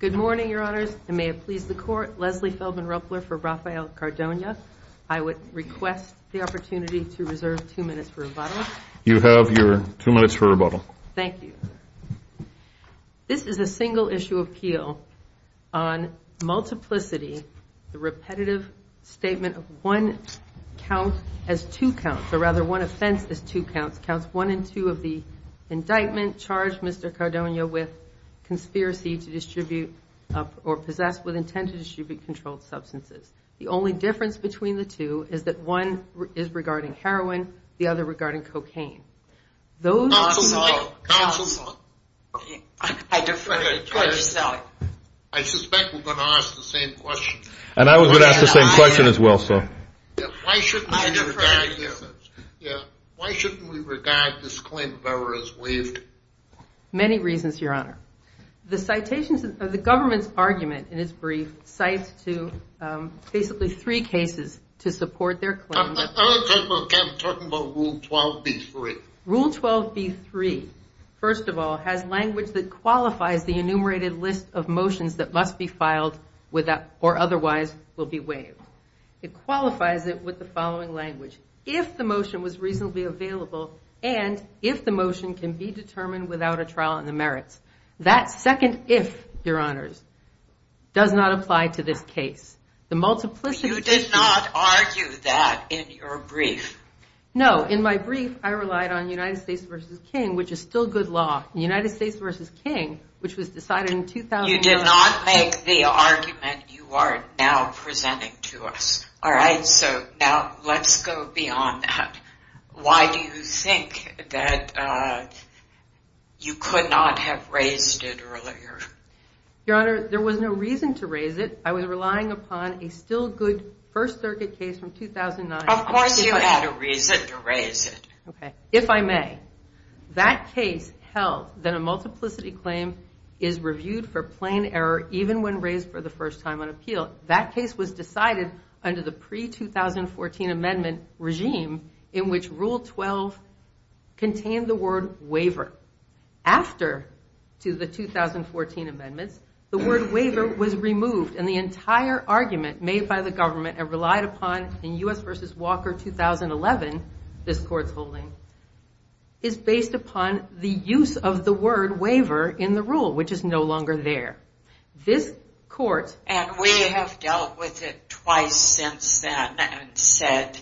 Good morning, your honors, and may it please the court, Leslie Feldman Ruppler for Raphael Cardona. I would request the opportunity to reserve two minutes for rebuttal. You have your two minutes for rebuttal. Thank you. This is a single issue appeal on multiplicity, the repetitive statement of one count as two counts, or rather one offense as two counts, counts one and two of the indictment charged Mr. Cardona with conspiracy to distribute or possess with intent to distribute controlled substances. The only difference between the two is that one is regarding heroin, the other regarding cocaine. I suspect we're going to ask the same question. And I was going to ask the same question as well, so why shouldn't we regard this claim of error as waived? Many reasons, your honor. The citations of the government's argument in its brief cites to basically three cases to support their claim. I'm talking about rule 12B3. Rule 12B3, first of all, has language that qualifies the enumerated list of motions that must be filed with or otherwise will be waived. It qualifies it with the following language. If the motion was reasonably available and if the motion can be determined without a trial in the merits. That second if, your honors, does not apply to this case. You did not argue that in your brief. No, in my brief, I relied on United States versus King, which is still good law. United States versus King, which was decided in 2009. You did not make the argument you are now presenting to us. All right, so now let's go beyond that. Why do you think that you could not have raised it earlier? Your honor, there was no reason to raise it. I was relying upon a still good First Circuit case from 2009. Of course you had a reason to raise it. If I may, that case held that a multiplicity claim is reviewed for plain error even when raised for the first time on appeal. That case was decided under the pre-2014 amendment regime in which rule 12 contained the word waiver. After the 2014 amendments, the word waiver was removed and the entire argument made by the government and relied upon in U.S. versus Walker 2011, this court's holding, is based upon the use of the word waiver in the rule, which is no longer there. This court... And we have dealt with it twice since then and said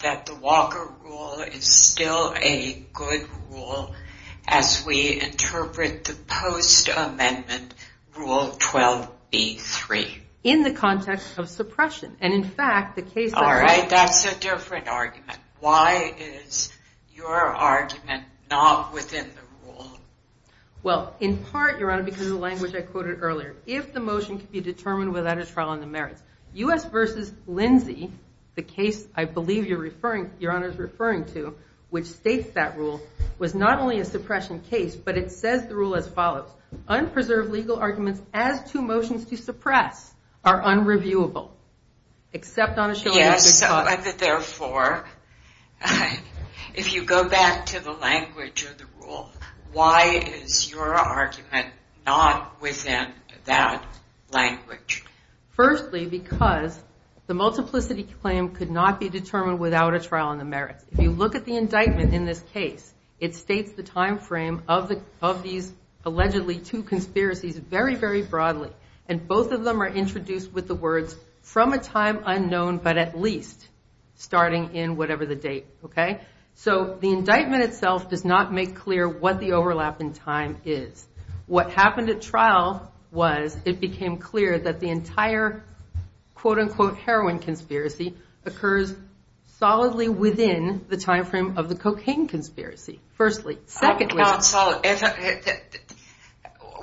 that the Walker rule is still a good rule as we interpret the post-amendment rule 12b3. In the context of suppression. And in fact, the case... All right, that's a different argument. Why is your argument not within the rule? Well, in part, your honor, because of the language I quoted earlier. If the motion could be determined without a trial on the merits, U.S. versus Lindsay, the case I believe your honor is referring to, which states that rule, was not only a suppression case, but it says the rule as follows. Unpreserved legal arguments as to motions to suppress are unreviewable. Except on a show of hands. Yes, therefore, if you go back to the language of the rule, why is your argument not within that language? Firstly, because the multiplicity claim could not be determined without a trial on the merits. If you look at the indictment in this case, it states the time frame of these allegedly two conspiracies very, very broadly. And both of them are introduced with the words, from a time unknown, but at least starting in whatever the date, okay? So the indictment itself does not make clear what the overlap in time is. What happened at trial was it became clear that the entire quote unquote heroin conspiracy occurs solidly within the time frame of the cocaine conspiracy. Firstly. Secondly.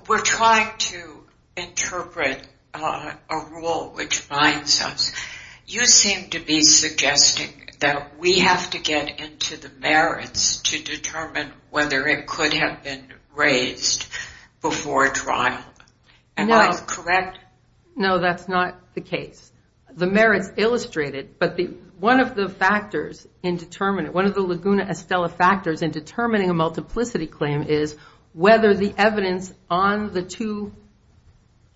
We're trying to interpret a rule which binds us. You seem to be suggesting that we have to get into the merits to determine whether it could have been raised before trial. Am I correct? No, that's not the case. The merits illustrate it, but one of the Laguna Estella factors in determining a multiplicity claim is whether the evidence on the two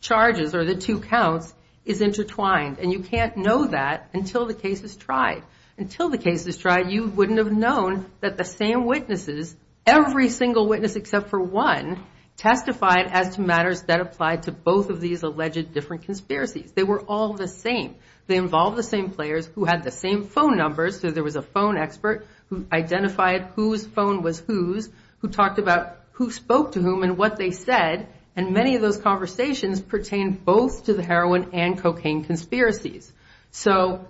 charges or the two counts is intertwined. And you can't know that until the case is tried. Until the case is tried, you wouldn't have known that the same witnesses, every single witness except for one, testified as to matters that applied to both of these alleged different conspiracies. They were all the same. They involved the same players who had the same phone numbers. So there was a phone expert who identified whose phone was whose, who talked about who spoke to whom and what they said. And many of those conversations pertain both to the heroin and cocaine conspiracies. So,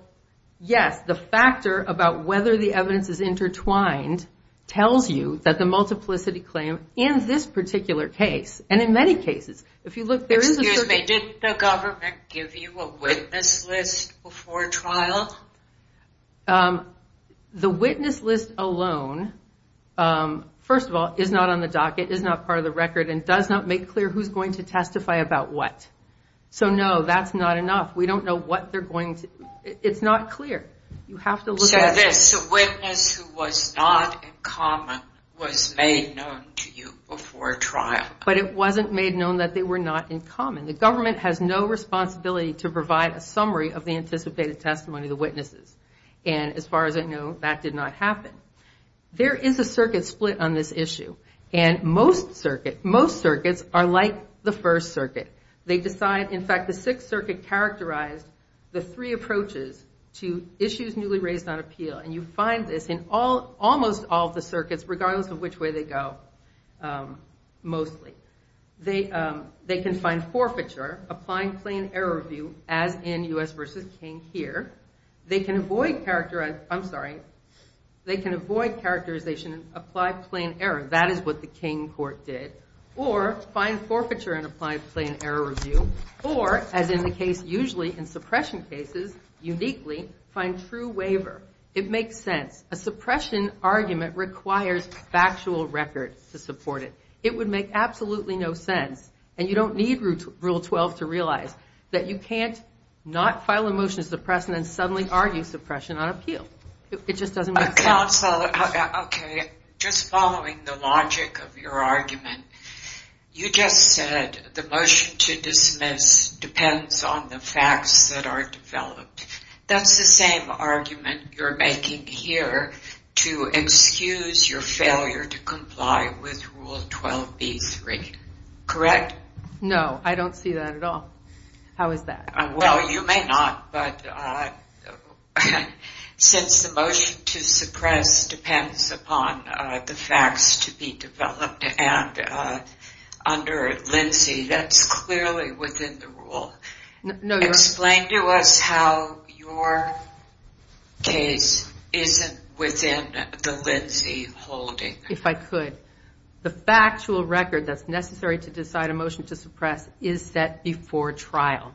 yes, the factor about whether the evidence is intertwined tells you that the multiplicity claim in this particular case, and in many cases, if you look, there is a... Did the government give you a witness list before trial? The witness list alone, first of all, is not on the docket, is not part of the record, and does not make clear who's going to testify about what. So, no, that's not enough. We don't know what they're going to. It's not clear. You have to look at this. A witness who was not in common was made known to you before trial. But it wasn't made known that they were not in common. The government has no responsibility to provide a summary of the anticipated testimony of the witnesses. And as far as I know, that did not happen. There is a circuit split on this issue. And most circuits are like the First Circuit. They decide, in fact, the Sixth Circuit characterized the three approaches to issues newly raised on appeal. And you find this in almost all of the circuits, regardless of which way they go, mostly. They can find forfeiture, applying plain error review, as in U.S. v. King here. They can avoid characterization, I'm sorry, they can avoid characterization and apply plain error. That is what the King court did. Or find forfeiture and apply plain error review. Or, as in the case usually in suppression cases, uniquely, find true waiver. It makes sense. A suppression argument requires factual record to support it. It would make absolutely no sense. And you don't need Rule 12 to realize that you can't not file a motion to suppress and then suddenly argue suppression on appeal. It just doesn't make sense. Counsel, just following the logic of your argument, you just said the motion to dismiss depends on the facts that are developed. That's the same argument you're making here to excuse your failure to comply with Rule 12b-3, correct? No, I don't see that at all. How is that? Well, you may not, but since the motion to suppress depends upon the facts to be developed, and under Lindsay, that's clearly within the rule. Explain to us how your case isn't within the Lindsay holding. If I could. The factual record that's necessary to decide a motion to suppress is set before trial.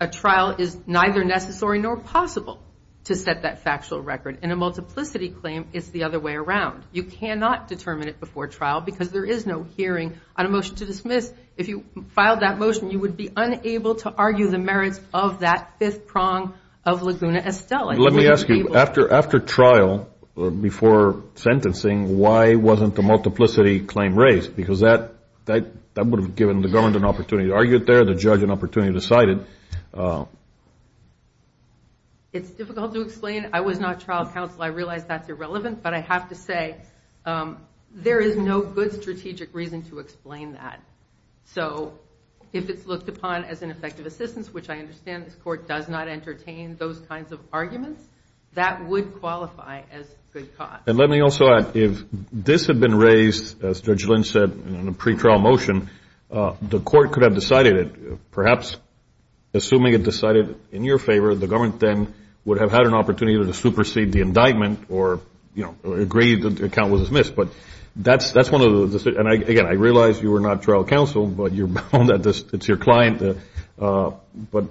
A trial is neither necessary nor possible to set that factual record. And a multiplicity claim is the other way around. You cannot determine it before trial because there is no hearing on a motion to dismiss. If you filed that motion, you would be unable to argue the merits of that fifth prong of Laguna Estella. Let me ask you, after trial or before sentencing, why wasn't the multiplicity claim raised? Because that would have given the government an opportunity to argue it there, the judge an opportunity to decide it. It's difficult to explain. I was not trial counsel. I realize that's irrelevant, but I have to say there is no good strategic reason to explain that. So if it's looked upon as an effective assistance, which I understand this court does not entertain those kinds of arguments, that would qualify as good cause. And let me also add, if this had been raised, as Judge Lynch said, in a pretrial motion, the court could have decided it. Perhaps, assuming it decided in your favor, the government then would have had an opportunity to supersede the indictment or, you know, agree that the account was dismissed. But that's one of the, and again, I realize you were not trial counsel, but you're bound that it's your client. But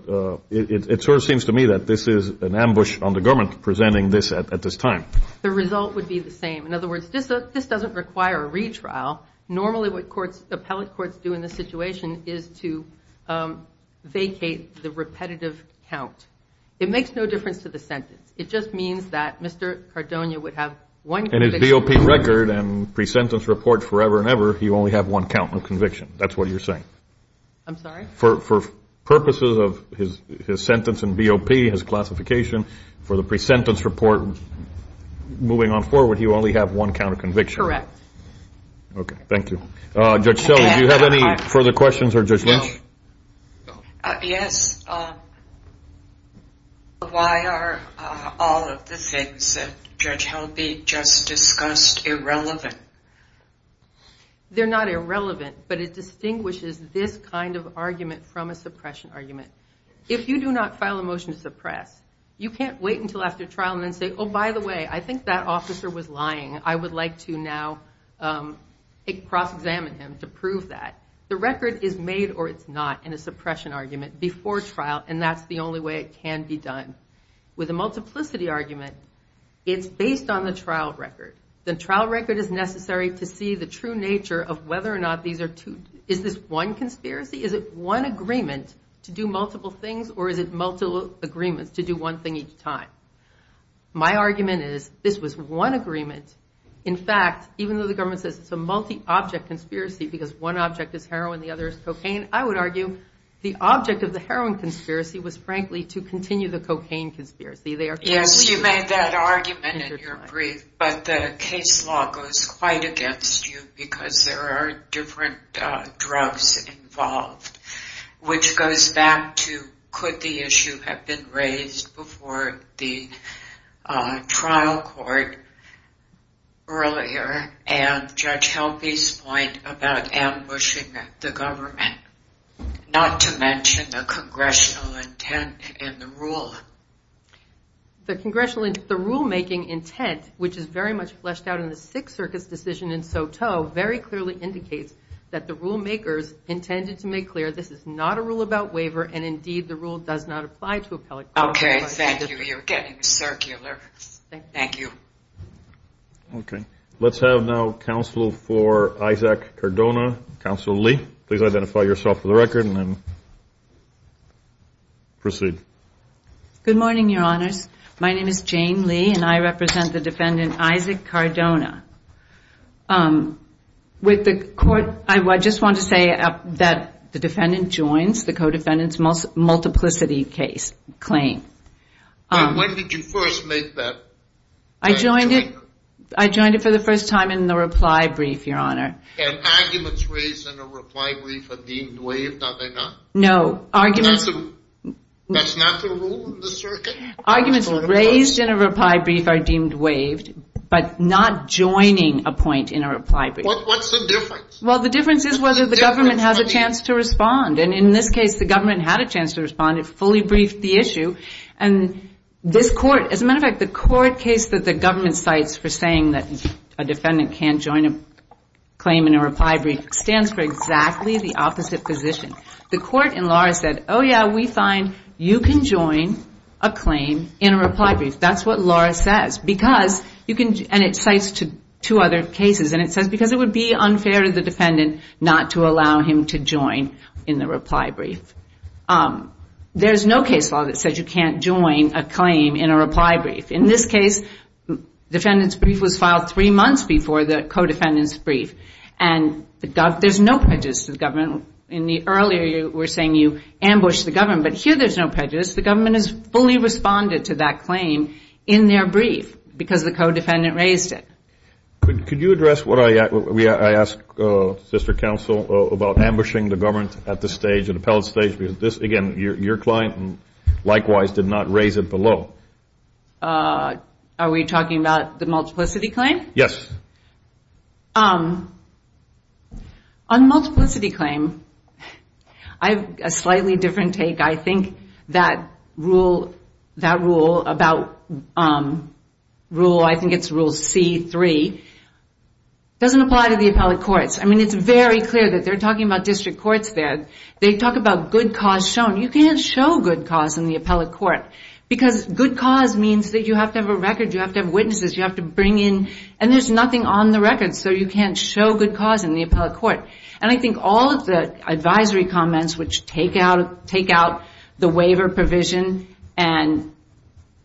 it sort of seems to me that this is an ambush on the government presenting this at this time. The result would be the same. In other words, this doesn't require a retrial. Normally, what courts, appellate courts do in this situation is to vacate the repetitive count. It makes no difference to the sentence. It just means that Mr. Cardona would have one conviction. In the BOP record and pre-sentence report forever and ever, he would only have one count of conviction. That's what you're saying. I'm sorry? For purposes of his sentence in BOP, his classification, for the pre-sentence report, moving on forward, he would only have one count of conviction. Correct. Okay. Thank you. Judge Shelley, do you have any further questions for Judge Lynch? Yes. Why are all of the things that Judge Helby just discussed irrelevant? They're not irrelevant, but it distinguishes this kind of argument from a suppression argument. If you do not file a motion to suppress, you can't wait until after trial and then say, oh, by the way, I think that officer was lying. I would like to now cross-examine him to prove that. The record is made or it's not in a suppression argument before trial. And that's the only way it can be done. With a multiplicity argument, it's based on the trial record. The trial record is necessary to see the true nature of whether or not these are two, is this one conspiracy? Is it one agreement to do multiple things? Or is it multiple agreements to do one thing each time? My argument is this was one agreement. In fact, even though the government says it's a multi-object conspiracy because one object is heroin, the other is cocaine, I would argue the object of the heroin conspiracy was, frankly, to continue the cocaine conspiracy. Yes, you made that argument in your brief, but the case law goes quite against you because there are different drugs involved, which goes back to could the issue have been raised before the trial court? Earlier, and Judge Helvey's point about ambushing the government, not to mention the congressional intent in the rule. The congressional, the rulemaking intent, which is very much fleshed out in the Sixth Circuit's decision in Soteau, very clearly indicates that the rulemakers intended to make clear this is not a rule about waiver, and indeed the rule does not apply to appellate. OK, thank you. You're getting circular. Thank you. OK, let's have now counsel for Isaac Cardona. Counsel Lee, please identify yourself for the record and then proceed. Good morning, Your Honors. My name is Jane Lee, and I represent the defendant, Isaac Cardona. With the court, I just want to say that the defendant joins the co-defendant's multiplicity case claim. When did you first make that claim? I joined it. I joined it for the first time in the reply brief, Your Honor. And arguments raised in a reply brief are deemed waived, are they not? No. Arguments raised in a reply brief are deemed waived, but not joining a point in a reply brief. What's the difference? Well, the difference is whether the government has a chance to respond. And in this case, the government had a chance to respond. It fully briefed the issue. And this court, as a matter of fact, the court case that the government cites for saying that a defendant can't join a claim in a reply brief stands for exactly the opposite position. The court in Laura said, oh, yeah, we find you can join a claim in a reply brief. That's what Laura says. Because you can, and it cites two other cases, and it says because it would be unfair to the defendant not to allow him to join in the reply brief. There's no case law that says you can't join a claim in a reply brief. In this case, defendant's brief was filed three months before the co-defendant's brief. And there's no prejudice to the government. In the earlier, you were saying you ambushed the government. But here, there's no prejudice. The government has fully responded to that claim in their brief because the co-defendant raised it. Could you address what I asked, Sister Counsel, about ambushing the government at this stage, at the appellate stage? Because this, again, your client likewise did not raise it below. Are we talking about the multiplicity claim? Yes. On multiplicity claim, I have a slightly different take. I think that rule, that rule about rule, I think it's rule C3, doesn't apply to the appellate courts. I mean, it's very clear that they're talking about district courts there. They talk about good cause shown. You can't show good cause in the appellate court. Because good cause means that you have to have a record, you have to have witnesses, you have to bring in, and there's nothing on the record. So you can't show good cause in the appellate court. And I think all of the advisory comments which take out the waiver provision and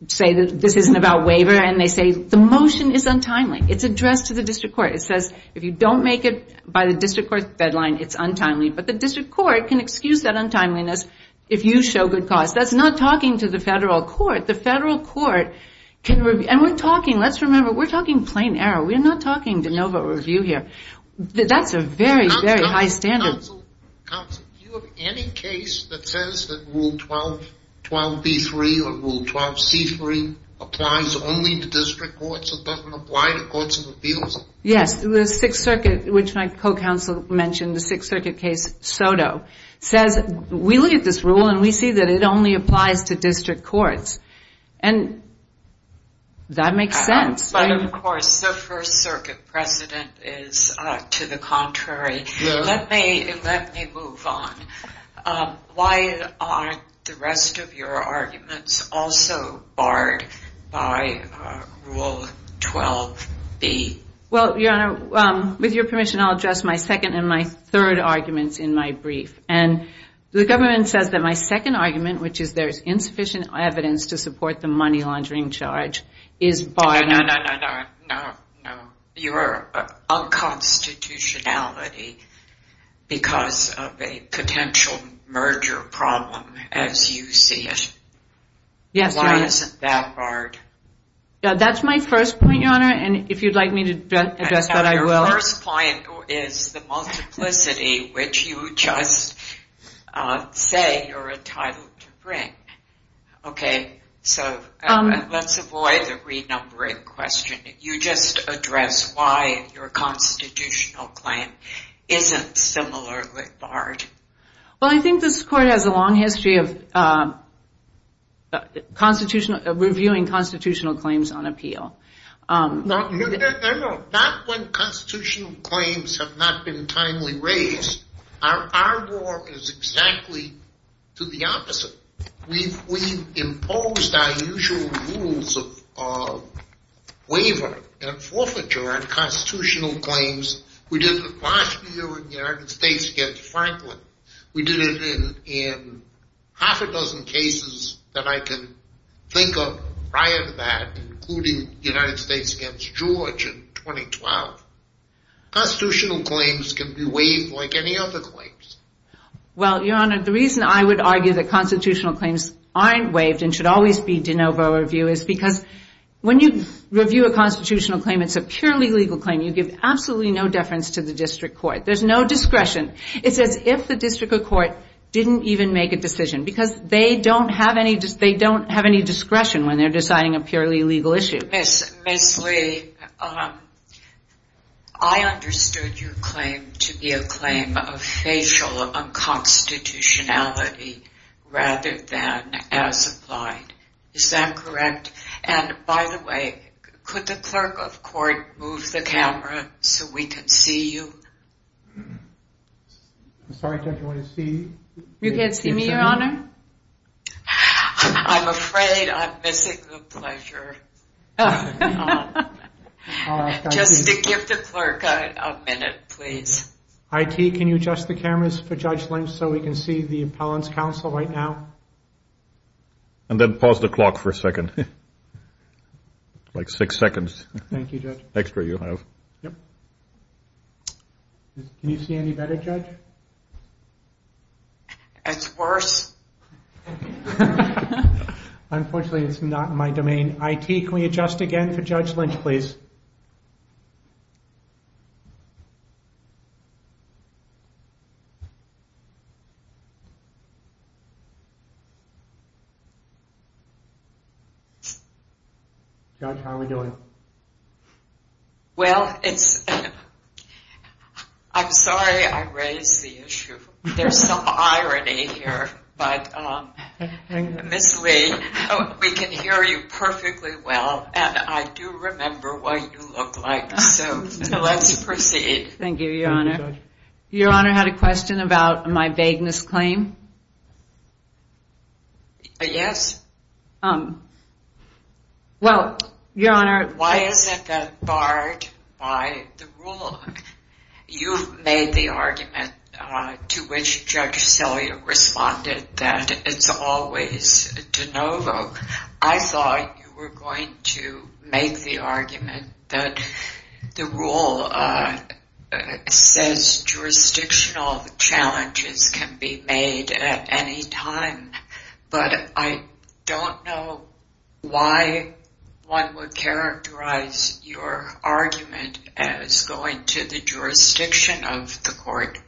say that this isn't about waiver, and they say the motion is untimely. It's addressed to the district court. It says, if you don't make it by the district court's deadline, it's untimely. But the district court can excuse that untimeliness if you show good cause. That's not talking to the federal court. The federal court can, and we're talking, let's remember, we're talking plain error. We're not talking de novo review here. That's a very, very high standard. Counsel, do you have any case that says that Rule 12B3 or Rule 12C3 applies only to district courts and doesn't apply to courts of appeals? Yes, the Sixth Circuit, which my co-counsel mentioned, the Sixth Circuit case, SOTO, says we look at this rule and we see that it only applies to district courts. And that makes sense. But, of course, the First Circuit precedent is to the contrary. Let me move on. Why aren't the rest of your arguments also barred by Rule 12B? Well, Your Honor, with your permission, I'll address my second and my third arguments in my brief. And the government says that my second argument, which is there's insufficient evidence to support the money laundering charge, is barred. No, no, no, no, no, no. You are unconstitutionality because of a potential merger problem, as you see it. Yes. Why isn't that barred? That's my first point, Your Honor. And if you'd like me to address that, I will. Your first point is the multiplicity, which you just say you're entitled to bring. OK, so let's avoid the renumbering question. You just address why your constitutional claim isn't similarly barred. Well, I think this court has a long history of reviewing constitutional claims on appeal. Not when constitutional claims have not been timely raised. Our war is exactly to the opposite. We've imposed our usual rules of waiver and forfeiture on constitutional claims. We did it last year in the United States against Franklin. We did it in half a dozen cases that I can think of prior to that, including the United States against George in 2012. Constitutional claims can be waived like any other claims. Well, Your Honor, the reason I would argue that constitutional claims aren't waived and should always be de novo review is because when you review a constitutional claim, it's a purely legal claim. You give absolutely no deference to the district court. There's no discretion. It's as if the district court didn't even make a decision because they don't have any. They don't have any discretion when they're deciding a purely legal issue. Ms. Lee, I understood your claim to be a claim of facial unconstitutionality rather than as implied. Is that correct? And by the way, could the clerk of court move the camera so we can see you? Sorry, Judge, I want to see. You can't see me, Your Honor? I'm afraid I'm missing the pleasure. Just to give the clerk a minute, please. IT, can you adjust the cameras for Judge Lynch so we can see the appellant's counsel right now? And then pause the clock for a second. Like six seconds. Thank you, Judge. Extra you have. Can you see any better, Judge? It's worse. Unfortunately, it's not in my domain. IT, can we adjust again for Judge Lynch, please? Judge, how are we doing? Well, I'm sorry I raised the issue. There's some irony here, but Ms. Lee, we can hear you perfectly well, and I do remember what you look like, so let's proceed. Thank you, Your Honor. Your Honor had a question about my vagueness claim? Yes. Well, Your Honor. Why is it that barred by the rule? You've made the argument to which Judge Sellier responded that it's always de novo. I thought you were going to make the argument that the rule says jurisdictional challenges can be made at any time, but I don't know why one would characterize your argument as going to the jurisdiction of the court.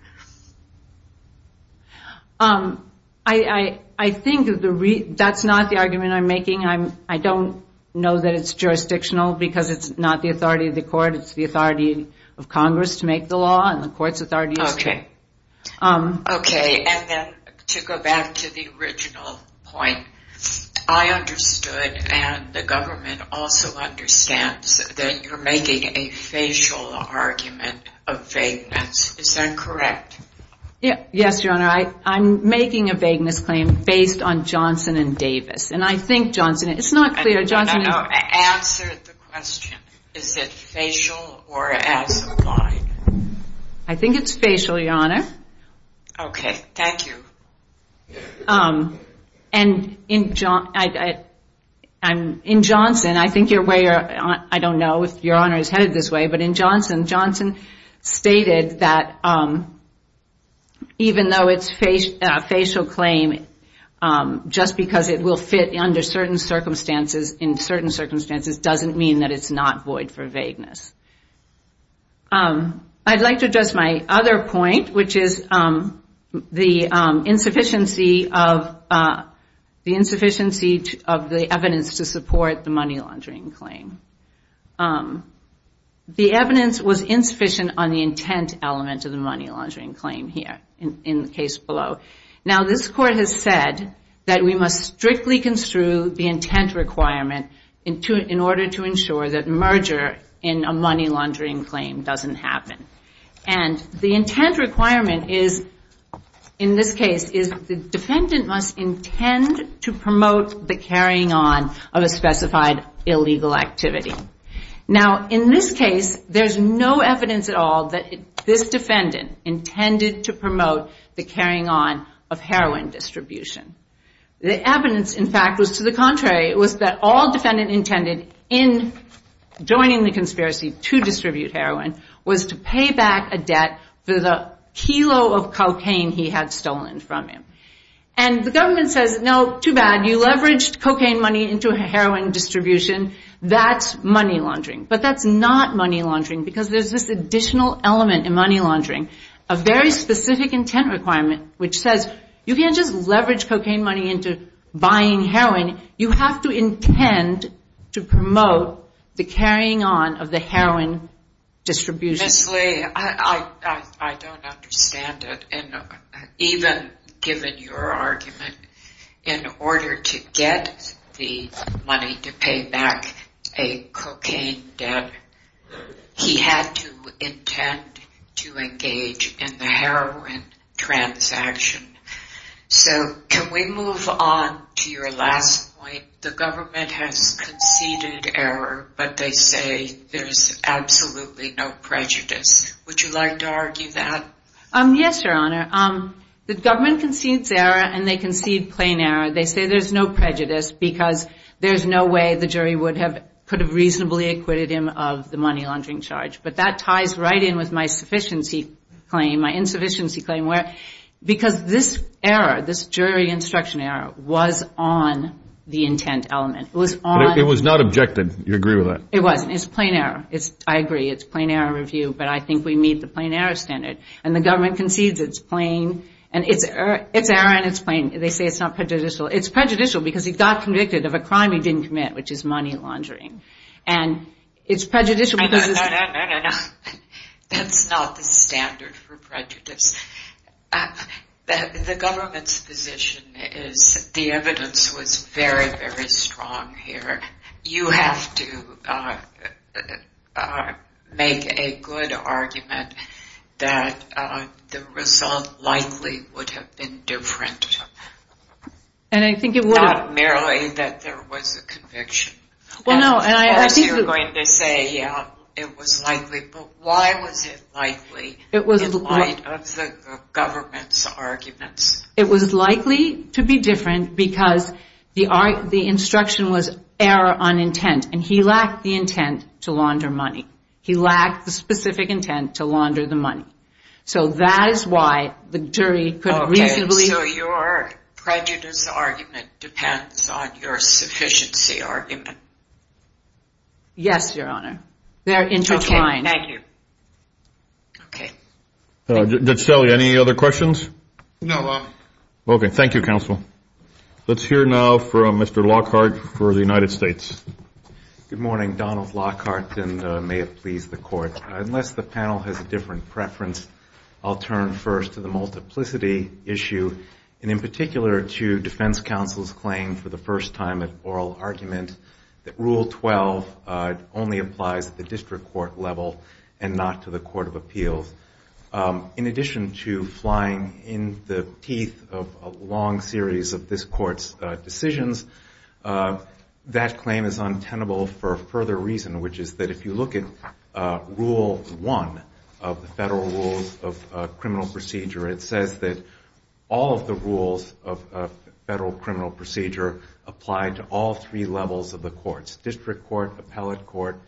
I think that's not the argument I'm making. I don't know that it's jurisdictional because it's not the authority of the court. It's the authority of Congress to make the law, and the court's authority is to... Okay, and then to go back to the original point, I understood, and the government also understands, that you're making a facial argument. A vagueness, is that correct? Yes, Your Honor. I'm making a vagueness claim based on Johnson and Davis, and I think Johnson... It's not clear. Answer the question. Is it facial or as applied? I think it's facial, Your Honor. Okay, thank you. And in Johnson, I think your way, I don't know if Your Honor is headed this way, but in Johnson, Johnson stated that even though it's a facial claim, just because it will fit under certain circumstances, in certain circumstances, doesn't mean that it's not void for vagueness. I'd like to address my other point, which is the insufficiency of the evidence to support the money laundering claim. The evidence was insufficient on the intent element of the money laundering claim here, in the case below. Now, this court has said that we must strictly construe the intent requirement in order to ensure that merger in a money laundering claim doesn't happen. And the intent requirement is, in this case, is the defendant must intend to promote the carrying on of a specified illegal activity. Now, in this case, there's no evidence at all that this defendant intended to promote the carrying on of heroin distribution. The evidence, in fact, was to the contrary. It was that all defendant intended in joining the conspiracy to distribute heroin was to pay back a debt for the kilo of cocaine he had stolen from him. And the government says, no, too bad, you leveraged cocaine money into heroin distribution, that's money laundering. But that's not money laundering, because there's this additional element in money laundering, a very specific intent requirement, which says, you can't just leverage cocaine money into buying heroin, you have to intend to promote the carrying on of the heroin distribution. Honestly, I don't understand it. And even given your argument, in order to get the money to pay back a cocaine debt, he had to intend to engage in the heroin transaction. So can we move on to your last point? The government has conceded error, but they say there's absolutely no prejudice. Would you like to argue that? Yes, Your Honor. The government concedes error, and they concede plain error. They say there's no prejudice, because there's no way the jury would have reasonably acquitted him of the money laundering charge. But that ties right in with my insufficiency claim. Because this error, this jury instruction error, was on the intent element. It was not objected, you agree with that? It wasn't, it's plain error. I agree, it's plain error review, but I think we meet the plain error standard. And the government concedes it's error and it's plain, they say it's not prejudicial. It's prejudicial because he got convicted of a crime he didn't commit, which is money laundering. And it's prejudicial because... No, no, no, no, no, no. That's not the standard for prejudice. The government's position is the evidence was very, very strong here. You have to make a good argument that the result likely would have been different. And I think it would have... Not merely that there was a conviction. Well, no, and I think... You're going to say, yeah, it was likely. But why was it likely in light of the government's arguments? It was likely to be different because the instruction was error on intent. And he lacked the intent to launder money. He lacked the specific intent to launder the money. So that is why the jury could reasonably... So your prejudice argument depends on your sufficiency argument? Yes, Your Honor. They're intertwined. Okay, thank you. Okay. Judge Selle, any other questions? No, Your Honor. Okay, thank you, counsel. Let's hear now from Mr. Lockhart for the United States. Good morning, Donald Lockhart, and may it please the Court. Unless the panel has a different preference, I'll turn first to the multiplicity issue, and in particular to Defense Counsel's claim for the first time in oral argument that Rule 12 only applies at the district court level and not to the Court of Appeals. In addition to flying in the teeth of a long series of this Court's decisions, that claim is untenable for a further reason, which is that if you look at Rule 1 of the Federal Rules of Criminal Procedure, it says that all of the rules of federal criminal procedure apply to all three levels of the courts, district court, appellate court,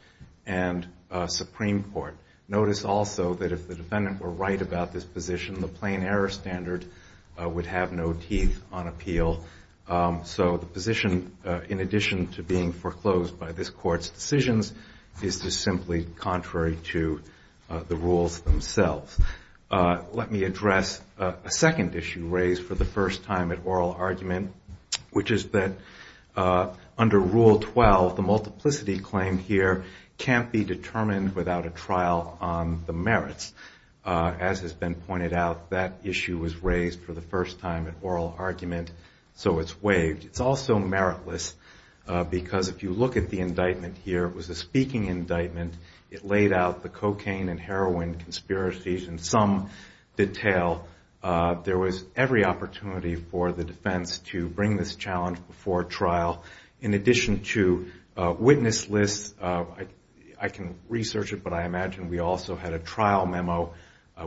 and supreme court. Notice also that if the defendant were right about this position, the plain error standard would have no teeth on appeal. This is simply contrary to the rules themselves. Let me address a second issue raised for the first time at oral argument, which is that under Rule 12, the multiplicity claim here can't be determined without a trial on the merits. As has been pointed out, that issue was raised for the first time at oral argument, so it's waived. It's also meritless, because if you look at the indictment here, it was a speaking indictment. It laid out the cocaine and heroin conspiracies in some detail. There was every opportunity for the defense to bring this challenge before trial. In addition to witness lists, I can research it, but I imagine we also had a trial memo.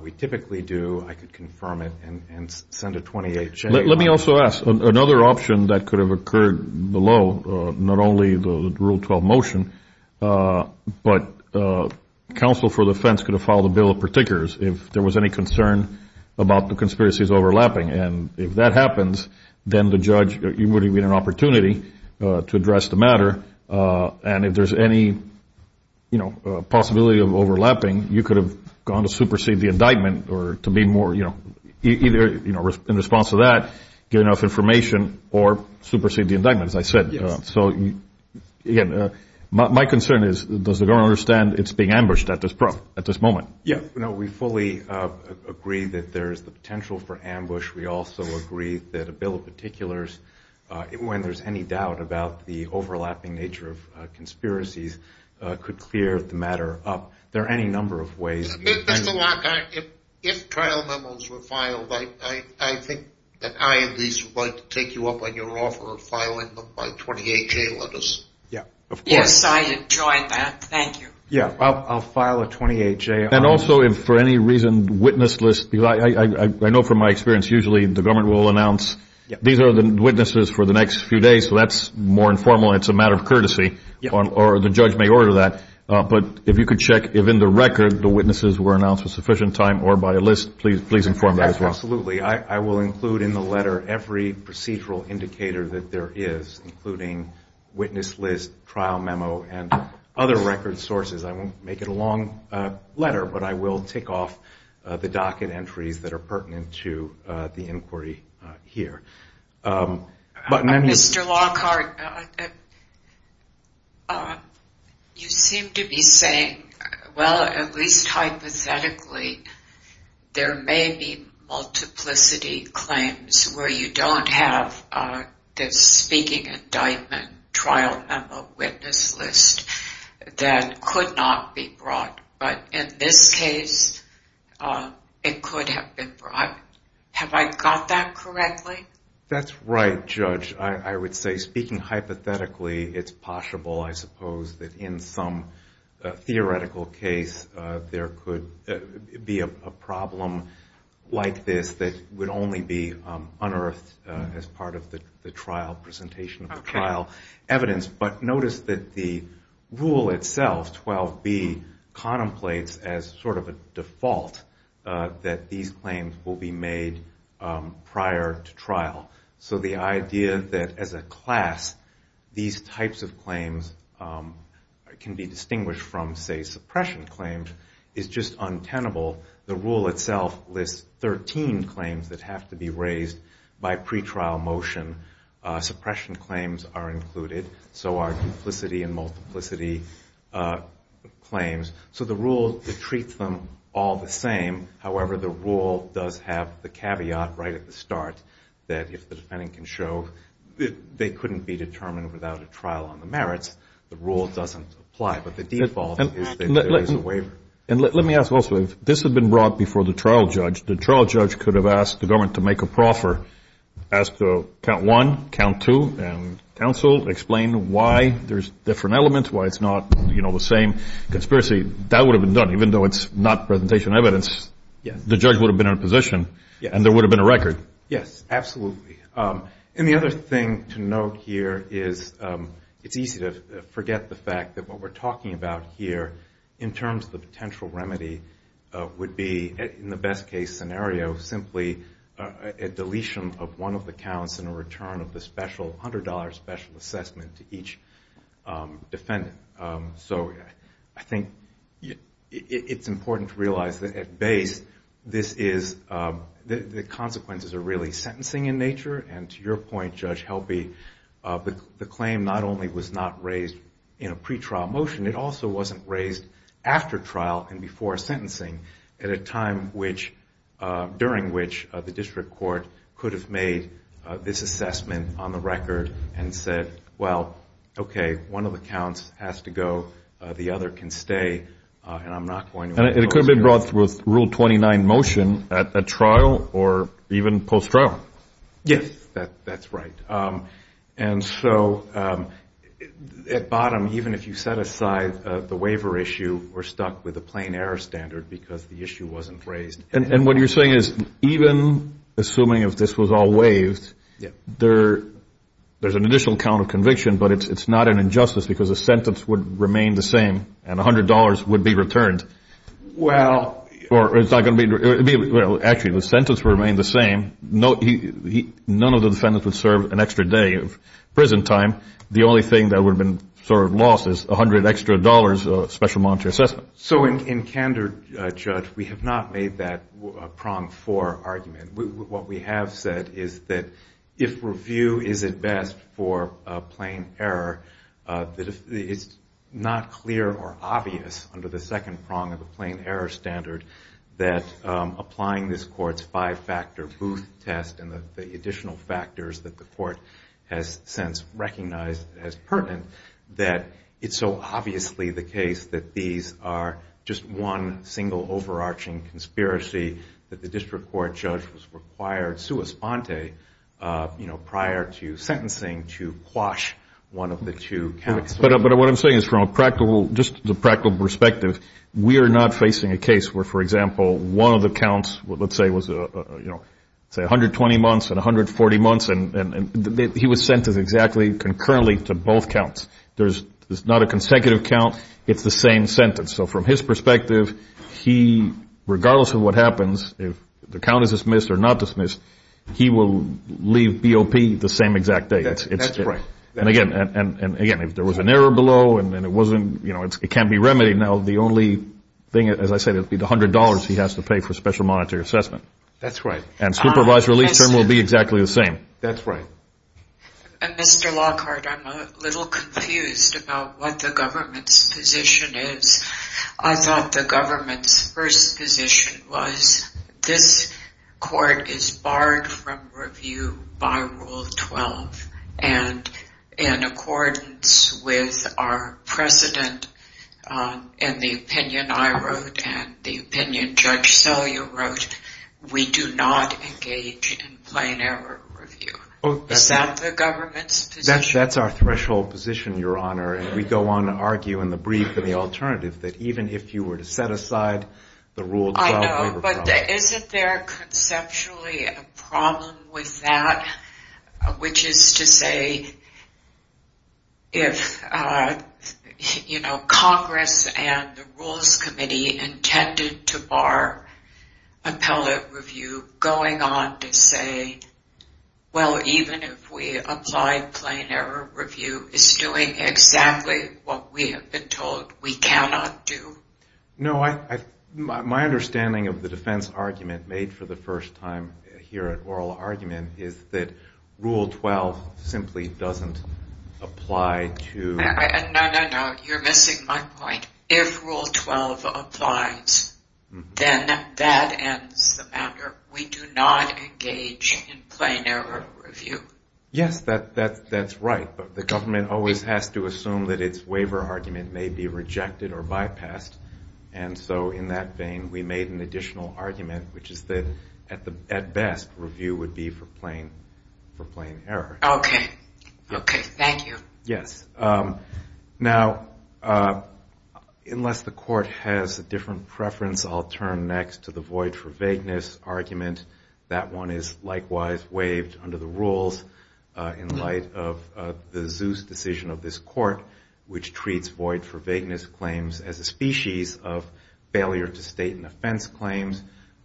We typically do. I could confirm it and send a 28th. Let me also ask. Another option that could have occurred below, not only the Rule 12 motion, but counsel for the defense could have filed a bill of particulars if there was any concern about the conspiracies overlapping. If that happens, then the judge would have had an opportunity to address the matter. If there's any possibility of overlapping, you could have gone to supersede the indictment or to be more, either in response to that, get enough information or supersede the indictment, as I said. My concern is, does the government understand it's being ambushed at this moment? We fully agree that there's the potential for ambush. We also agree that a bill of particulars, when there's any doubt about the overlapping nature of conspiracies, could clear the matter up. There are any number of ways. Mr. Locke, if trial memos were filed, I think that I at least would like to take you up on your offer of filing them by 28-J letters. Yes, I'd enjoy that. Thank you. I'll file a 28-J. And also, if for any reason, witness lists, I know from my experience, usually the government will announce these are the witnesses for the next few days, so that's more informal and it's a matter of courtesy, or the judge may order that, but if you could check if in the record the witnesses were announced with sufficient time or by a list, please inform that as well. Absolutely. I will include in the letter every procedural indicator that there is, including witness list, trial memo, and other record sources. I won't make it a long letter, but I will tick off the docket entries that are pertinent to the inquiry here. Mr. Lockhart, you seem to be saying, well, at least hypothetically, there may be multiplicity claims where you don't have the speaking indictment, trial memo, witness list that could not be brought. But in this case, it could have been brought. Have I got that correctly? That's right, Judge. I would say, speaking hypothetically, it's possible, I suppose, that in some theoretical case, there could be a problem like this that would only be unearthed as part of the presentation of the trial evidence. But notice that the rule itself, 12B, contemplates as sort of a default that these claims will be made prior to trial. So the idea that, as a class, these types of claims can be distinguished from, say, suppression claims is just untenable. The rule itself lists 13 claims that have to be raised by pretrial motion. Suppression claims are included, so are duplicity and multiplicity claims. So the rule treats them all the same. However, the rule does have the caveat right at the start that if the defendant can show they couldn't be determined without a trial on the merits, the rule doesn't apply. But the default is that there is a waiver. And let me ask also, if this had been brought before the trial judge, the trial judge could have asked the government to make a proffer, asked to count one, count two, and counsel, explain why there's different elements, why it's not the same conspiracy. That would have been done, even though it's not presentation evidence. The judge would have been in a position, and there would have been a record. Yes, absolutely. And the other thing to note here is it's easy to forget the fact that what we're talking about here in terms of the potential remedy would be, in the best-case scenario, simply a deletion of one of the counts and a return of the $100 special assessment to each defendant. So I think it's important to realize that at base, the consequences are really sentencing in nature. And to your point, Judge Helby, the claim not only was not raised in a pretrial motion, it also wasn't raised after trial and before sentencing at a time during which the district court could have made this assessment on the record and said, well, okay, one of the counts has to go, the other can stay, and I'm not going to... And it could have been brought with Rule 29 motion at trial or even post-trial. Yes, that's right. And so at bottom, even if you set aside the waiver issue, we're stuck with a plain error standard because the issue wasn't raised. And what you're saying is even assuming if this was all waived, there's an additional count of conviction, but it's not an injustice because the sentence would remain the same and $100 would be returned. Well... Actually, the sentence would remain the same. None of the defendants would serve an extra day of prison time. The only thing that would have been sort of lost is $100 extra dollars of special monetary assessment. So in candor, Judge, we have not made that a prong for argument. What we have said is that if review is at best for a plain error, it's not clear or obvious under the second prong of the plain error standard that applying this Court's five-factor Booth test and the additional factors that the Court has since recognized as pertinent, that it's so obviously the case that these are just one single overarching conspiracy that the District Court Judge was required prior to sentencing to quash one of the two counts. But what I'm saying is from a practical perspective, we are not facing a case where, for example, one of the counts, let's say, was 120 months and 140 months, and he was sentenced exactly concurrently to both counts. It's not a consecutive count. It's the same sentence. So from his perspective, regardless of what happens, if the count is dismissed or not dismissed, he will leave BOP the same exact day. And again, if there was an error below and it can't be remedied, now the only thing, as I said, it would be the $100 he has to pay for special monetary assessment. And supervised release term will be exactly the same. Mr. Lockhart, I'm a little confused about what the government's position is. I thought the government's first position was this Court is barred from review by Rule 12 and in accordance with our precedent in the opinion I wrote and the opinion Judge Sellier wrote, we do not engage in plain error review. Is that the government's position? That's our threshold position, Your Honor, and we go on to argue in the brief in the alternative that even if you were to set aside the Rule 12 waiver program I know, but isn't there conceptually a problem with that, which is to say if, you know, Congress and the Rules Committee intended to bar appellate review going on to say, well, even if we apply plain error review it's doing exactly what we have been told we cannot do? No, my understanding of the defense argument made for the first time here at oral argument is that Rule 12 simply doesn't apply No, no, no, you're missing my point. If Rule 12 applies then that ends the matter. We do not engage in plain error review. Yes, that's right, but the government always has to assume that its waiver argument may be rejected or bypassed, and so in that vein we made an additional argument, which is that at best review would be for plain error. Okay, thank you. Now, unless the court has a different preference, I'll turn next to the void for vagueness argument. That one is likewise waived under the rules in light of the Zeus decision of this court which treats void for vagueness claims as a species of failure to state an offense claim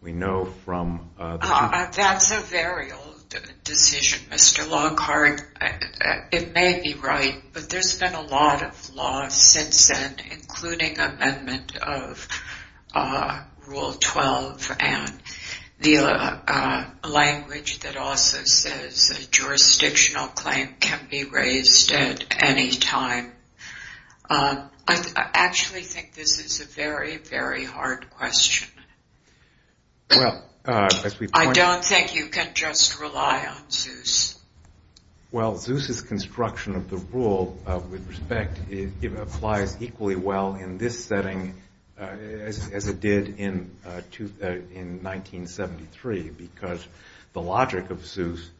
we know from... That's a very old decision, Mr. Longhart. It may be right, but there's been a lot of law since then, including amendment of Rule 12 and the language that also says jurisdictional claim can be raised at any time. I actually think this is a very, very hard question. I don't think you can just rely on Zeus. Well, Zeus's construction of the rule with respect applies equally well in this setting as it did in 1973 because the logic of Zeus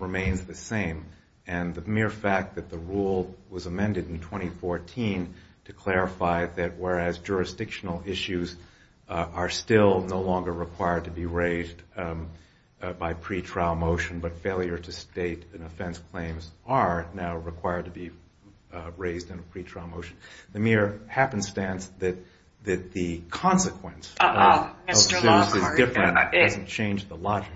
remains the same and the mere fact that the rule was amended in 2014 to clarify that whereas jurisdictional issues are still no longer required to be raised by pretrial motion, but failure to state an offense claim are now required to be raised in a pretrial motion. The mere happenstance that the consequence of Zeus is different hasn't changed the logic.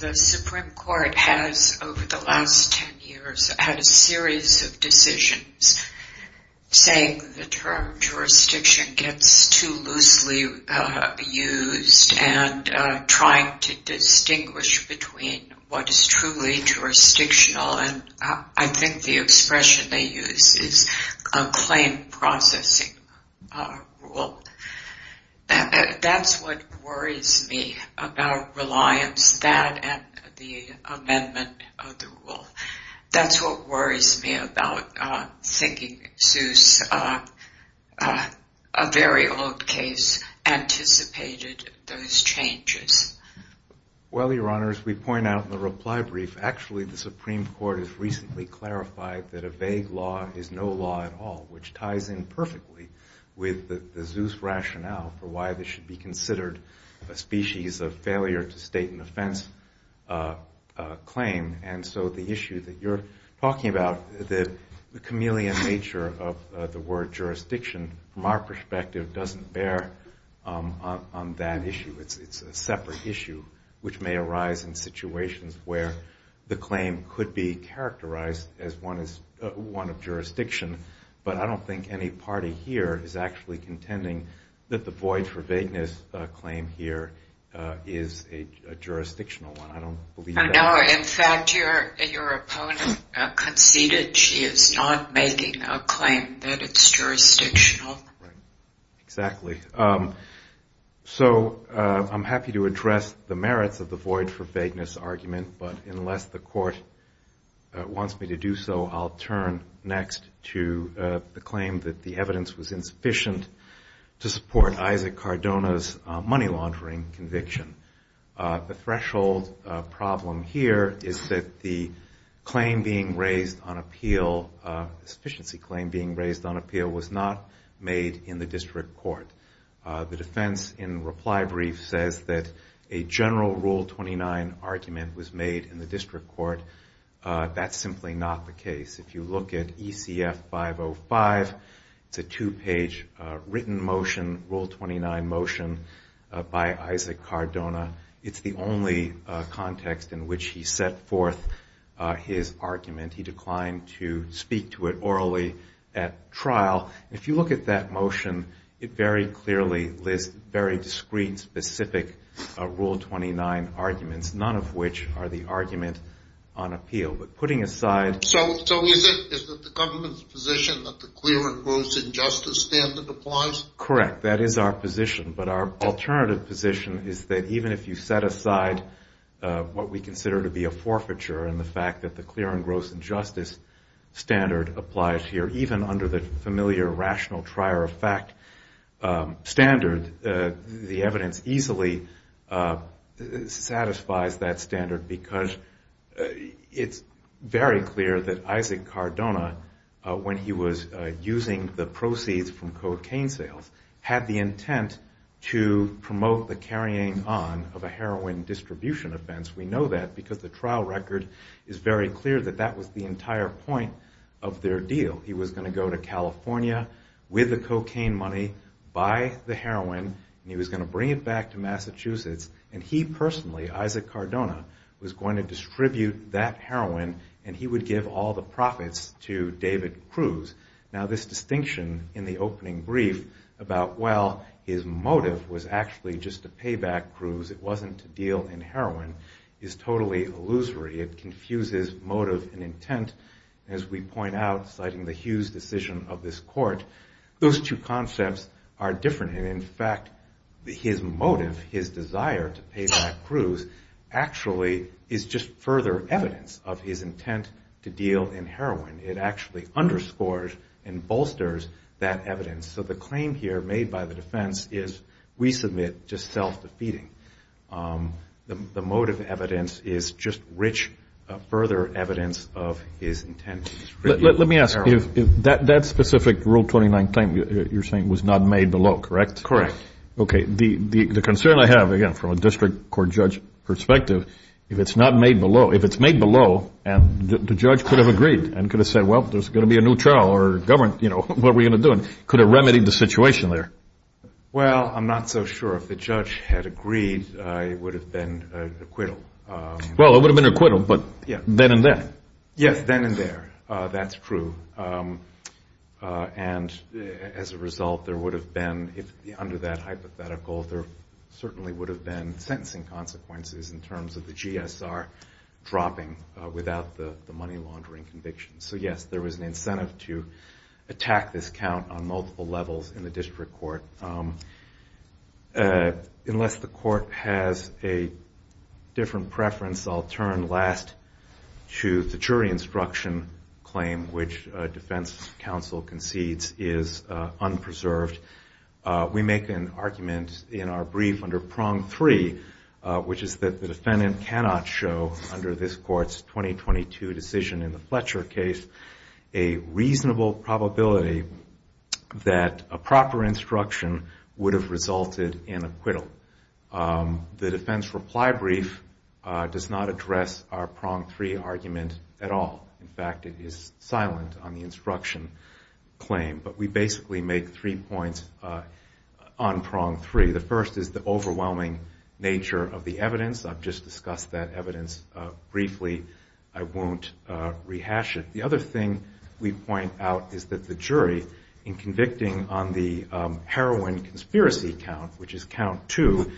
The Supreme Court has, over the last 10 years, had a series of decisions saying the term jurisdiction gets too loosely used and trying to distinguish between what is truly jurisdictional and I think the expression they use is a claim processing rule. That's what worries me about reliance on that and the amendment of the rule. That's what worries me about thinking Zeus, a very old case, anticipated those changes. Well, Your Honor, as we point out in the reply brief, actually the Supreme Court has recently clarified that a vague law is no law at all, which ties in perfectly with the Zeus rationale for why this should be considered a species of failure to state an offense claim and so the issue that you're talking about, the chameleon nature of the word jurisdiction, from our perspective, doesn't bear on that issue. It's a separate issue which may arise in situations where the claim could be characterized as one of jurisdiction, but I don't think any party here is actually contending that the void for vagueness claim here is a jurisdictional one. In fact, your opponent conceded she is not making a claim that it's jurisdictional. Exactly. So, I'm happy to address the merits of the void for vagueness argument but unless the court wants me to do so I'll turn next to the claim that the evidence was insufficient to support Isaac Cardona's money laundering conviction. The threshold problem here is that the claim being raised on appeal the sufficiency claim being raised on appeal was not made in the district court. The defense in reply brief says that a general Rule 29 argument was made in the district court. That's simply not the case. If you look at ECF 505 it's a two page written motion, Rule 29 motion by Isaac Cardona it's the only context in which he set forth his argument. He declined to speak to it orally at trial. If you look at that motion, it very clearly lists very discreet, specific Rule 29 arguments, none of which are the argument on appeal. But putting aside... Is it the government's position that the clear and gross injustice standard applies? Correct, that is our position but our alternative position is that even if you set aside what we consider to be a forfeiture and the fact that the clear and gross injustice standard applies here, even under the familiar rational trier of fact standard the evidence easily satisfies that standard because it's very clear that Isaac Cardona when he was using the proceeds from cocaine sales had the intent to promote the carrying on of a heroin distribution offense. We know that because the trial record is very clear that that was the entire point of their deal. He was going to go to California with the cocaine money, buy the heroin and he was going to bring it back to Massachusetts and he would distribute that heroin and he would give all the profits to David Cruz. Now this distinction in the opening brief about well his motive was actually just to pay back Cruz it wasn't to deal in heroin is totally illusory it confuses motive and intent as we point out citing the Hughes decision of this court those two concepts are different and in fact his motive, his desire to pay back Cruz actually is just further evidence of his intent to deal in heroin it actually underscores and bolsters that evidence. So the claim here made by the defense is we submit just self-defeating the motive evidence is just rich further evidence of his intent Let me ask you, that specific Rule 29 claim you're saying was not made below correct? Correct. Okay the concern I have again from a district court judge perspective if it's not made below if it's made below and the judge could have agreed and could have said well there's going to be a new trial or government what are we going to do? Could have remedied the situation there? Well I'm not so sure if the judge had agreed it would have been acquittal. Well it would have been acquittal but then and there. Yes then and there that's true and as a result there would have been under that hypothetical there certainly would have been sentencing consequences in terms of the GSR dropping without the money laundering conviction so yes there was an incentive to attack this count on multiple levels in the district court unless the court has a different preference I'll turn last to the jury instruction claim which defense counsel concedes is unpreserved. We make an argument in our brief under prong three which is that the defendant cannot show under this court's 2022 decision in the Fletcher case a reasonable probability that a proper instruction would have resulted in acquittal. The defense reply brief does not address our prong three argument at all. In fact it is silent on the instruction claim but we basically make three points on prong three the first is the overwhelming nature of the evidence I've just discussed that evidence briefly I won't rehash it. The other thing we point out is that the jury in convicting on the heroin conspiracy count which is count two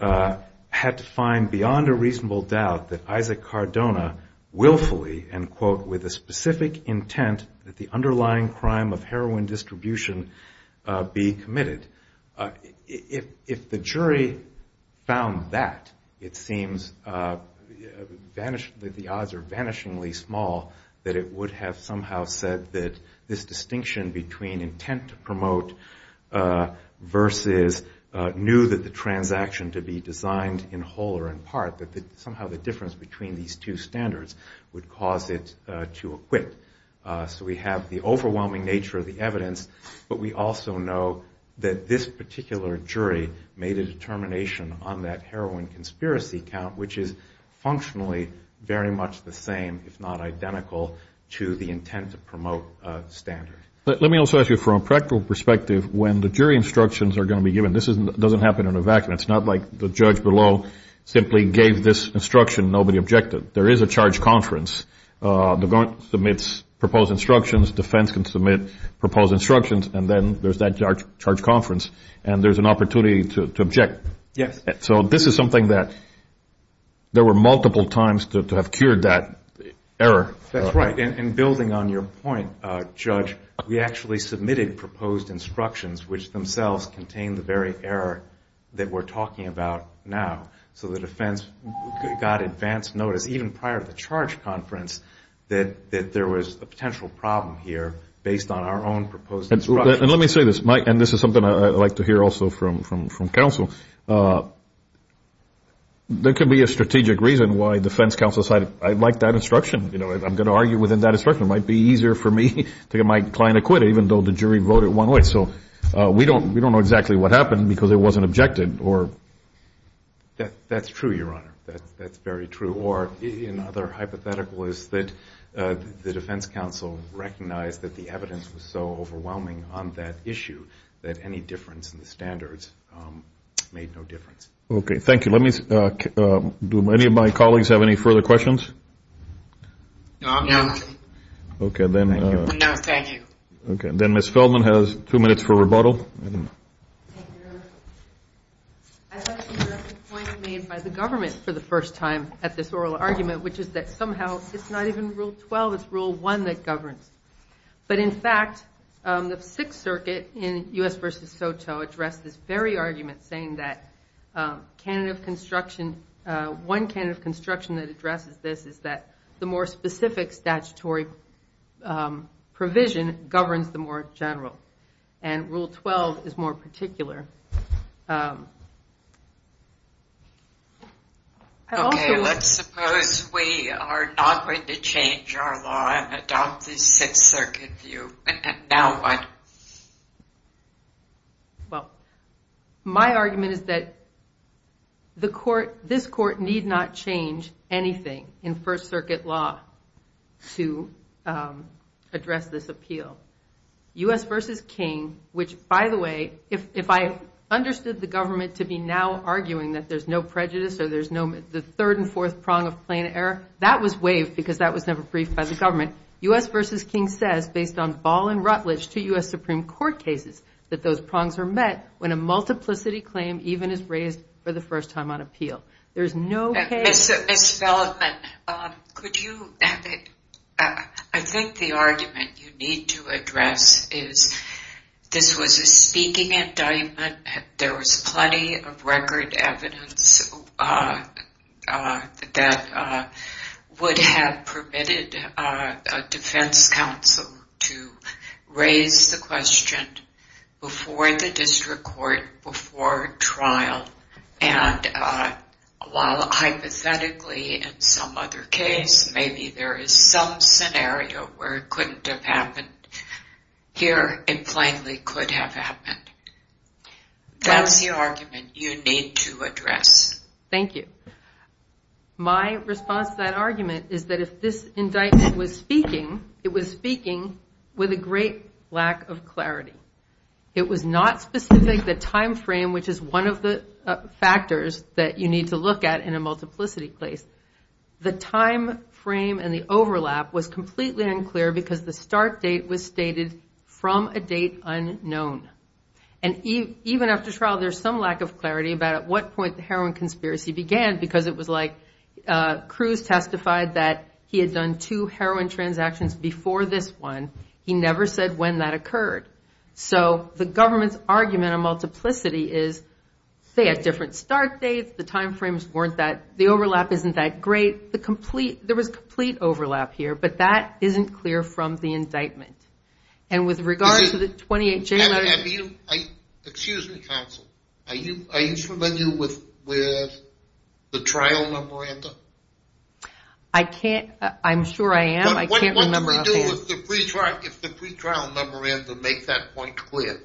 had to find beyond a reasonable doubt that Isaac Cardona willfully and quote with a specific intent that the underlying crime of heroin distribution be committed. If the jury found that it seems that the odds are vanishingly small that it would have somehow said that this distinction between intent to promote versus new that the transaction to be designed in whole or in part that somehow the difference between these two standards would cause it to acquit. So we have the overwhelming nature of the evidence but we also know that this particular jury made a determination on that heroin conspiracy count which is functionally very much the same if not identical to the intent to promote standard. Let me also ask you from a practical perspective when the jury instructions are going to be given this doesn't happen in a vacuum. It's not like the judge below simply gave this instruction nobody objected. There is a charge conference the court submits proposed instructions defense can submit proposed instructions and then there's that charge conference and there's an opportunity to object. Yes. So this is something that there were multiple times to have cured that error. That's right and building on your point judge we actually submitted proposed instructions which themselves contain the very error that we're talking about now. So the defense got advance notice even prior to the charge conference that there was a potential problem here based on our own proposed instructions. And let me say this and this is something I'd like to hear also from counsel reason why defense counsel decided I'd like that instruction I'm going to argue within that instruction. It might be easier for me to get my client acquitted even though the jury voted one way. So we don't know exactly what happened because it wasn't objected or. That's true your honor. That's very true. Or another hypothetical is that the defense counsel recognized that the evidence was so overwhelming on that issue that any difference in the standards made no difference. Okay. Thank you. Let me do any of my colleagues have any further questions? No. Okay then. No thank you. Okay then Ms. Feldman has two minutes for rebuttal. I'd like to address the point made by the government for the first time at this oral argument which is that somehow it's not even rule twelve it's rule one that governs. But in fact the sixth circuit in U.S. versus SOTO addressed this very argument saying that one candidate of construction that addresses this is that the more specific statutory provision governs the more general. And rule twelve is more particular. Okay let's suppose we are not going to change our law and adopt the sixth circuit view and now what? Well my argument is that this court need not change anything in first circuit law to address this appeal. U.S. versus King which by the way if I understood the government to be now arguing that there's no prejudice or the third and fourth prong of plain error that was waived because that was never briefed by the government. U.S. versus King says based on ball and rutledge to U.S. Supreme Court cases that those prongs are met when a multiplicity claim even is raised for the first time on appeal. Ms. Feldman I think the argument you need to address is this was a speaking indictment there was plenty of record evidence that would have permitted a defense counsel to raise the question before the district court before trial and while hypothetically in some other case maybe there is some scenario where it couldn't have happened here it plainly could have happened. That's the argument you need to address. Thank you. My response to that argument is that if this indictment was speaking it was speaking with a great lack of clarity. It was not specific the time frame which is one of the factors that you need to look at in a multiplicity case. The time frame and the overlap was completely unclear because the start date was stated from a date unknown. And even after trial there's some lack of clarity about at what point the heroin conspiracy began because it was like Cruz testified that he had done two heroin transactions before this one he never said when that occurred. So the government's argument on multiplicity is say a different start date, the time frames weren't that the overlap isn't that great there was complete overlap here but that isn't clear from the indictment. And with regard to the 28 January excuse me counsel are you familiar with the trial number I'm sure I am What do we do if the pre-trial memorandum makes that point clear?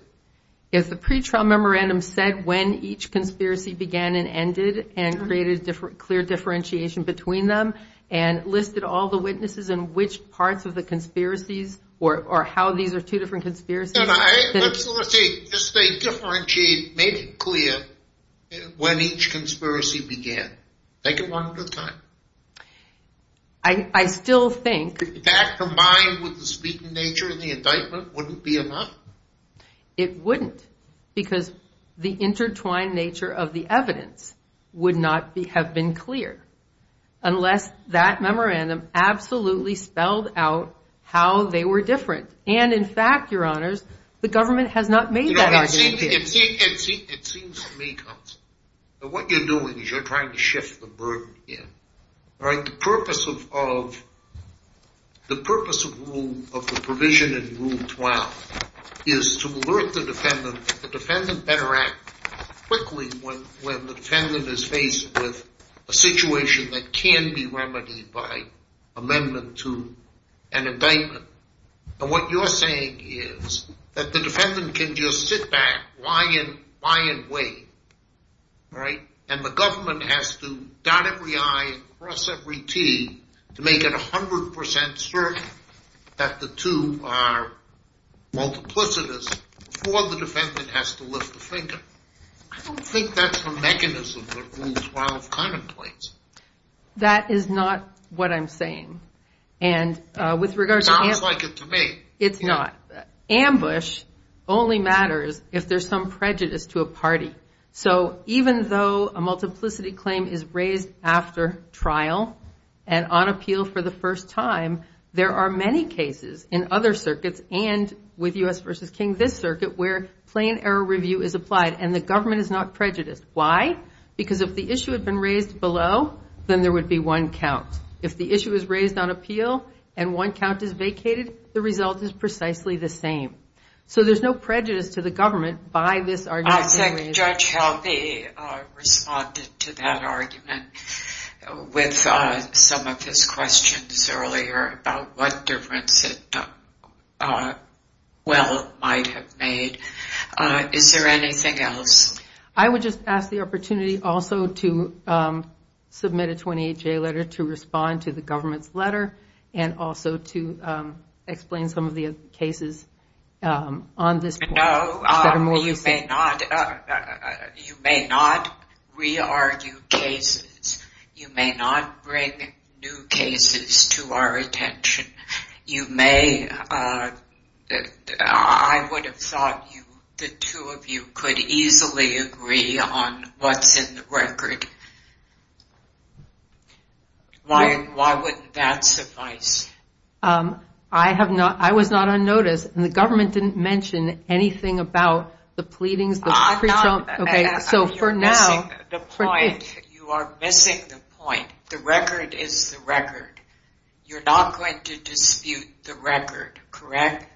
If the pre-trial memorandum said when each conspiracy began and ended and created clear differentiation between them and listed all the witnesses and which parts of the conspiracies or how these are two different conspiracies Just say differentiate, make it clear when each conspiracy began take it one at a time I still think that combined with the speaking nature of the indictment wouldn't be enough It wouldn't because the intertwined nature of the evidence would not have been clear unless that memorandum absolutely spelled out how they were different and in fact your honors the government has not It seems to me what you're doing is you're trying to shift the burden the purpose of the purpose of the provision in rule 12 is to alert the defendant the defendant better act quickly when the defendant is faced with a situation that can be remedied by amendment to an indictment and what you're saying is that the defendant can just sit back, lie in wait and the government has to dot every I and cross every T to make it 100% certain that the two are multiplicitous before the defendant has to lift a finger I don't think that's the mechanism that rule 12 contemplates That is not what I'm saying It sounds like it to me It's not. Ambush only matters if there's some prejudice to a party so even though a multiplicity claim is raised after trial and on appeal for the first time there are many cases in other circuits and with U.S. v. King this circuit where plain error review is applied and the government is not prejudiced Why? Because if the issue had been raised below then there would be one count If the issue is raised on appeal and one count is vacated the result is precisely the same So there's no prejudice to the government by this argument I think Judge Halvey responded to that argument with some of his questions earlier about what difference it might have made Is there anything else? I would just ask the opportunity also to submit a 28-J letter to respond to the government's letter and also to explain some of the cases No, you may not you may not re-argue cases you may not bring new cases to our attention I would have thought that the two of you could easily agree on what's in the record Why wouldn't that suffice? I was not on notice and the government didn't mention anything about the pleadings You are missing the point The record is the record You're not going to dispute the record, correct?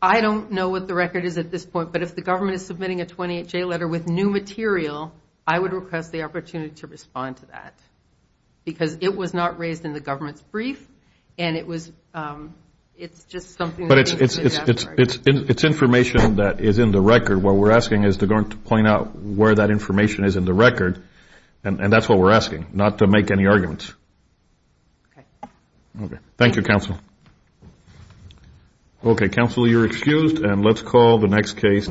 I don't know what the record is at this point but if the government is submitting a 28-J letter with new material I would request the opportunity to respond to that because it was not raised in the government's brief and it's just something But it's information that is in the record what we're asking is to point out where that information is in the record and that's what we're asking not to make any arguments Thank you, Counsel Counsel, you're excused and let's call the next case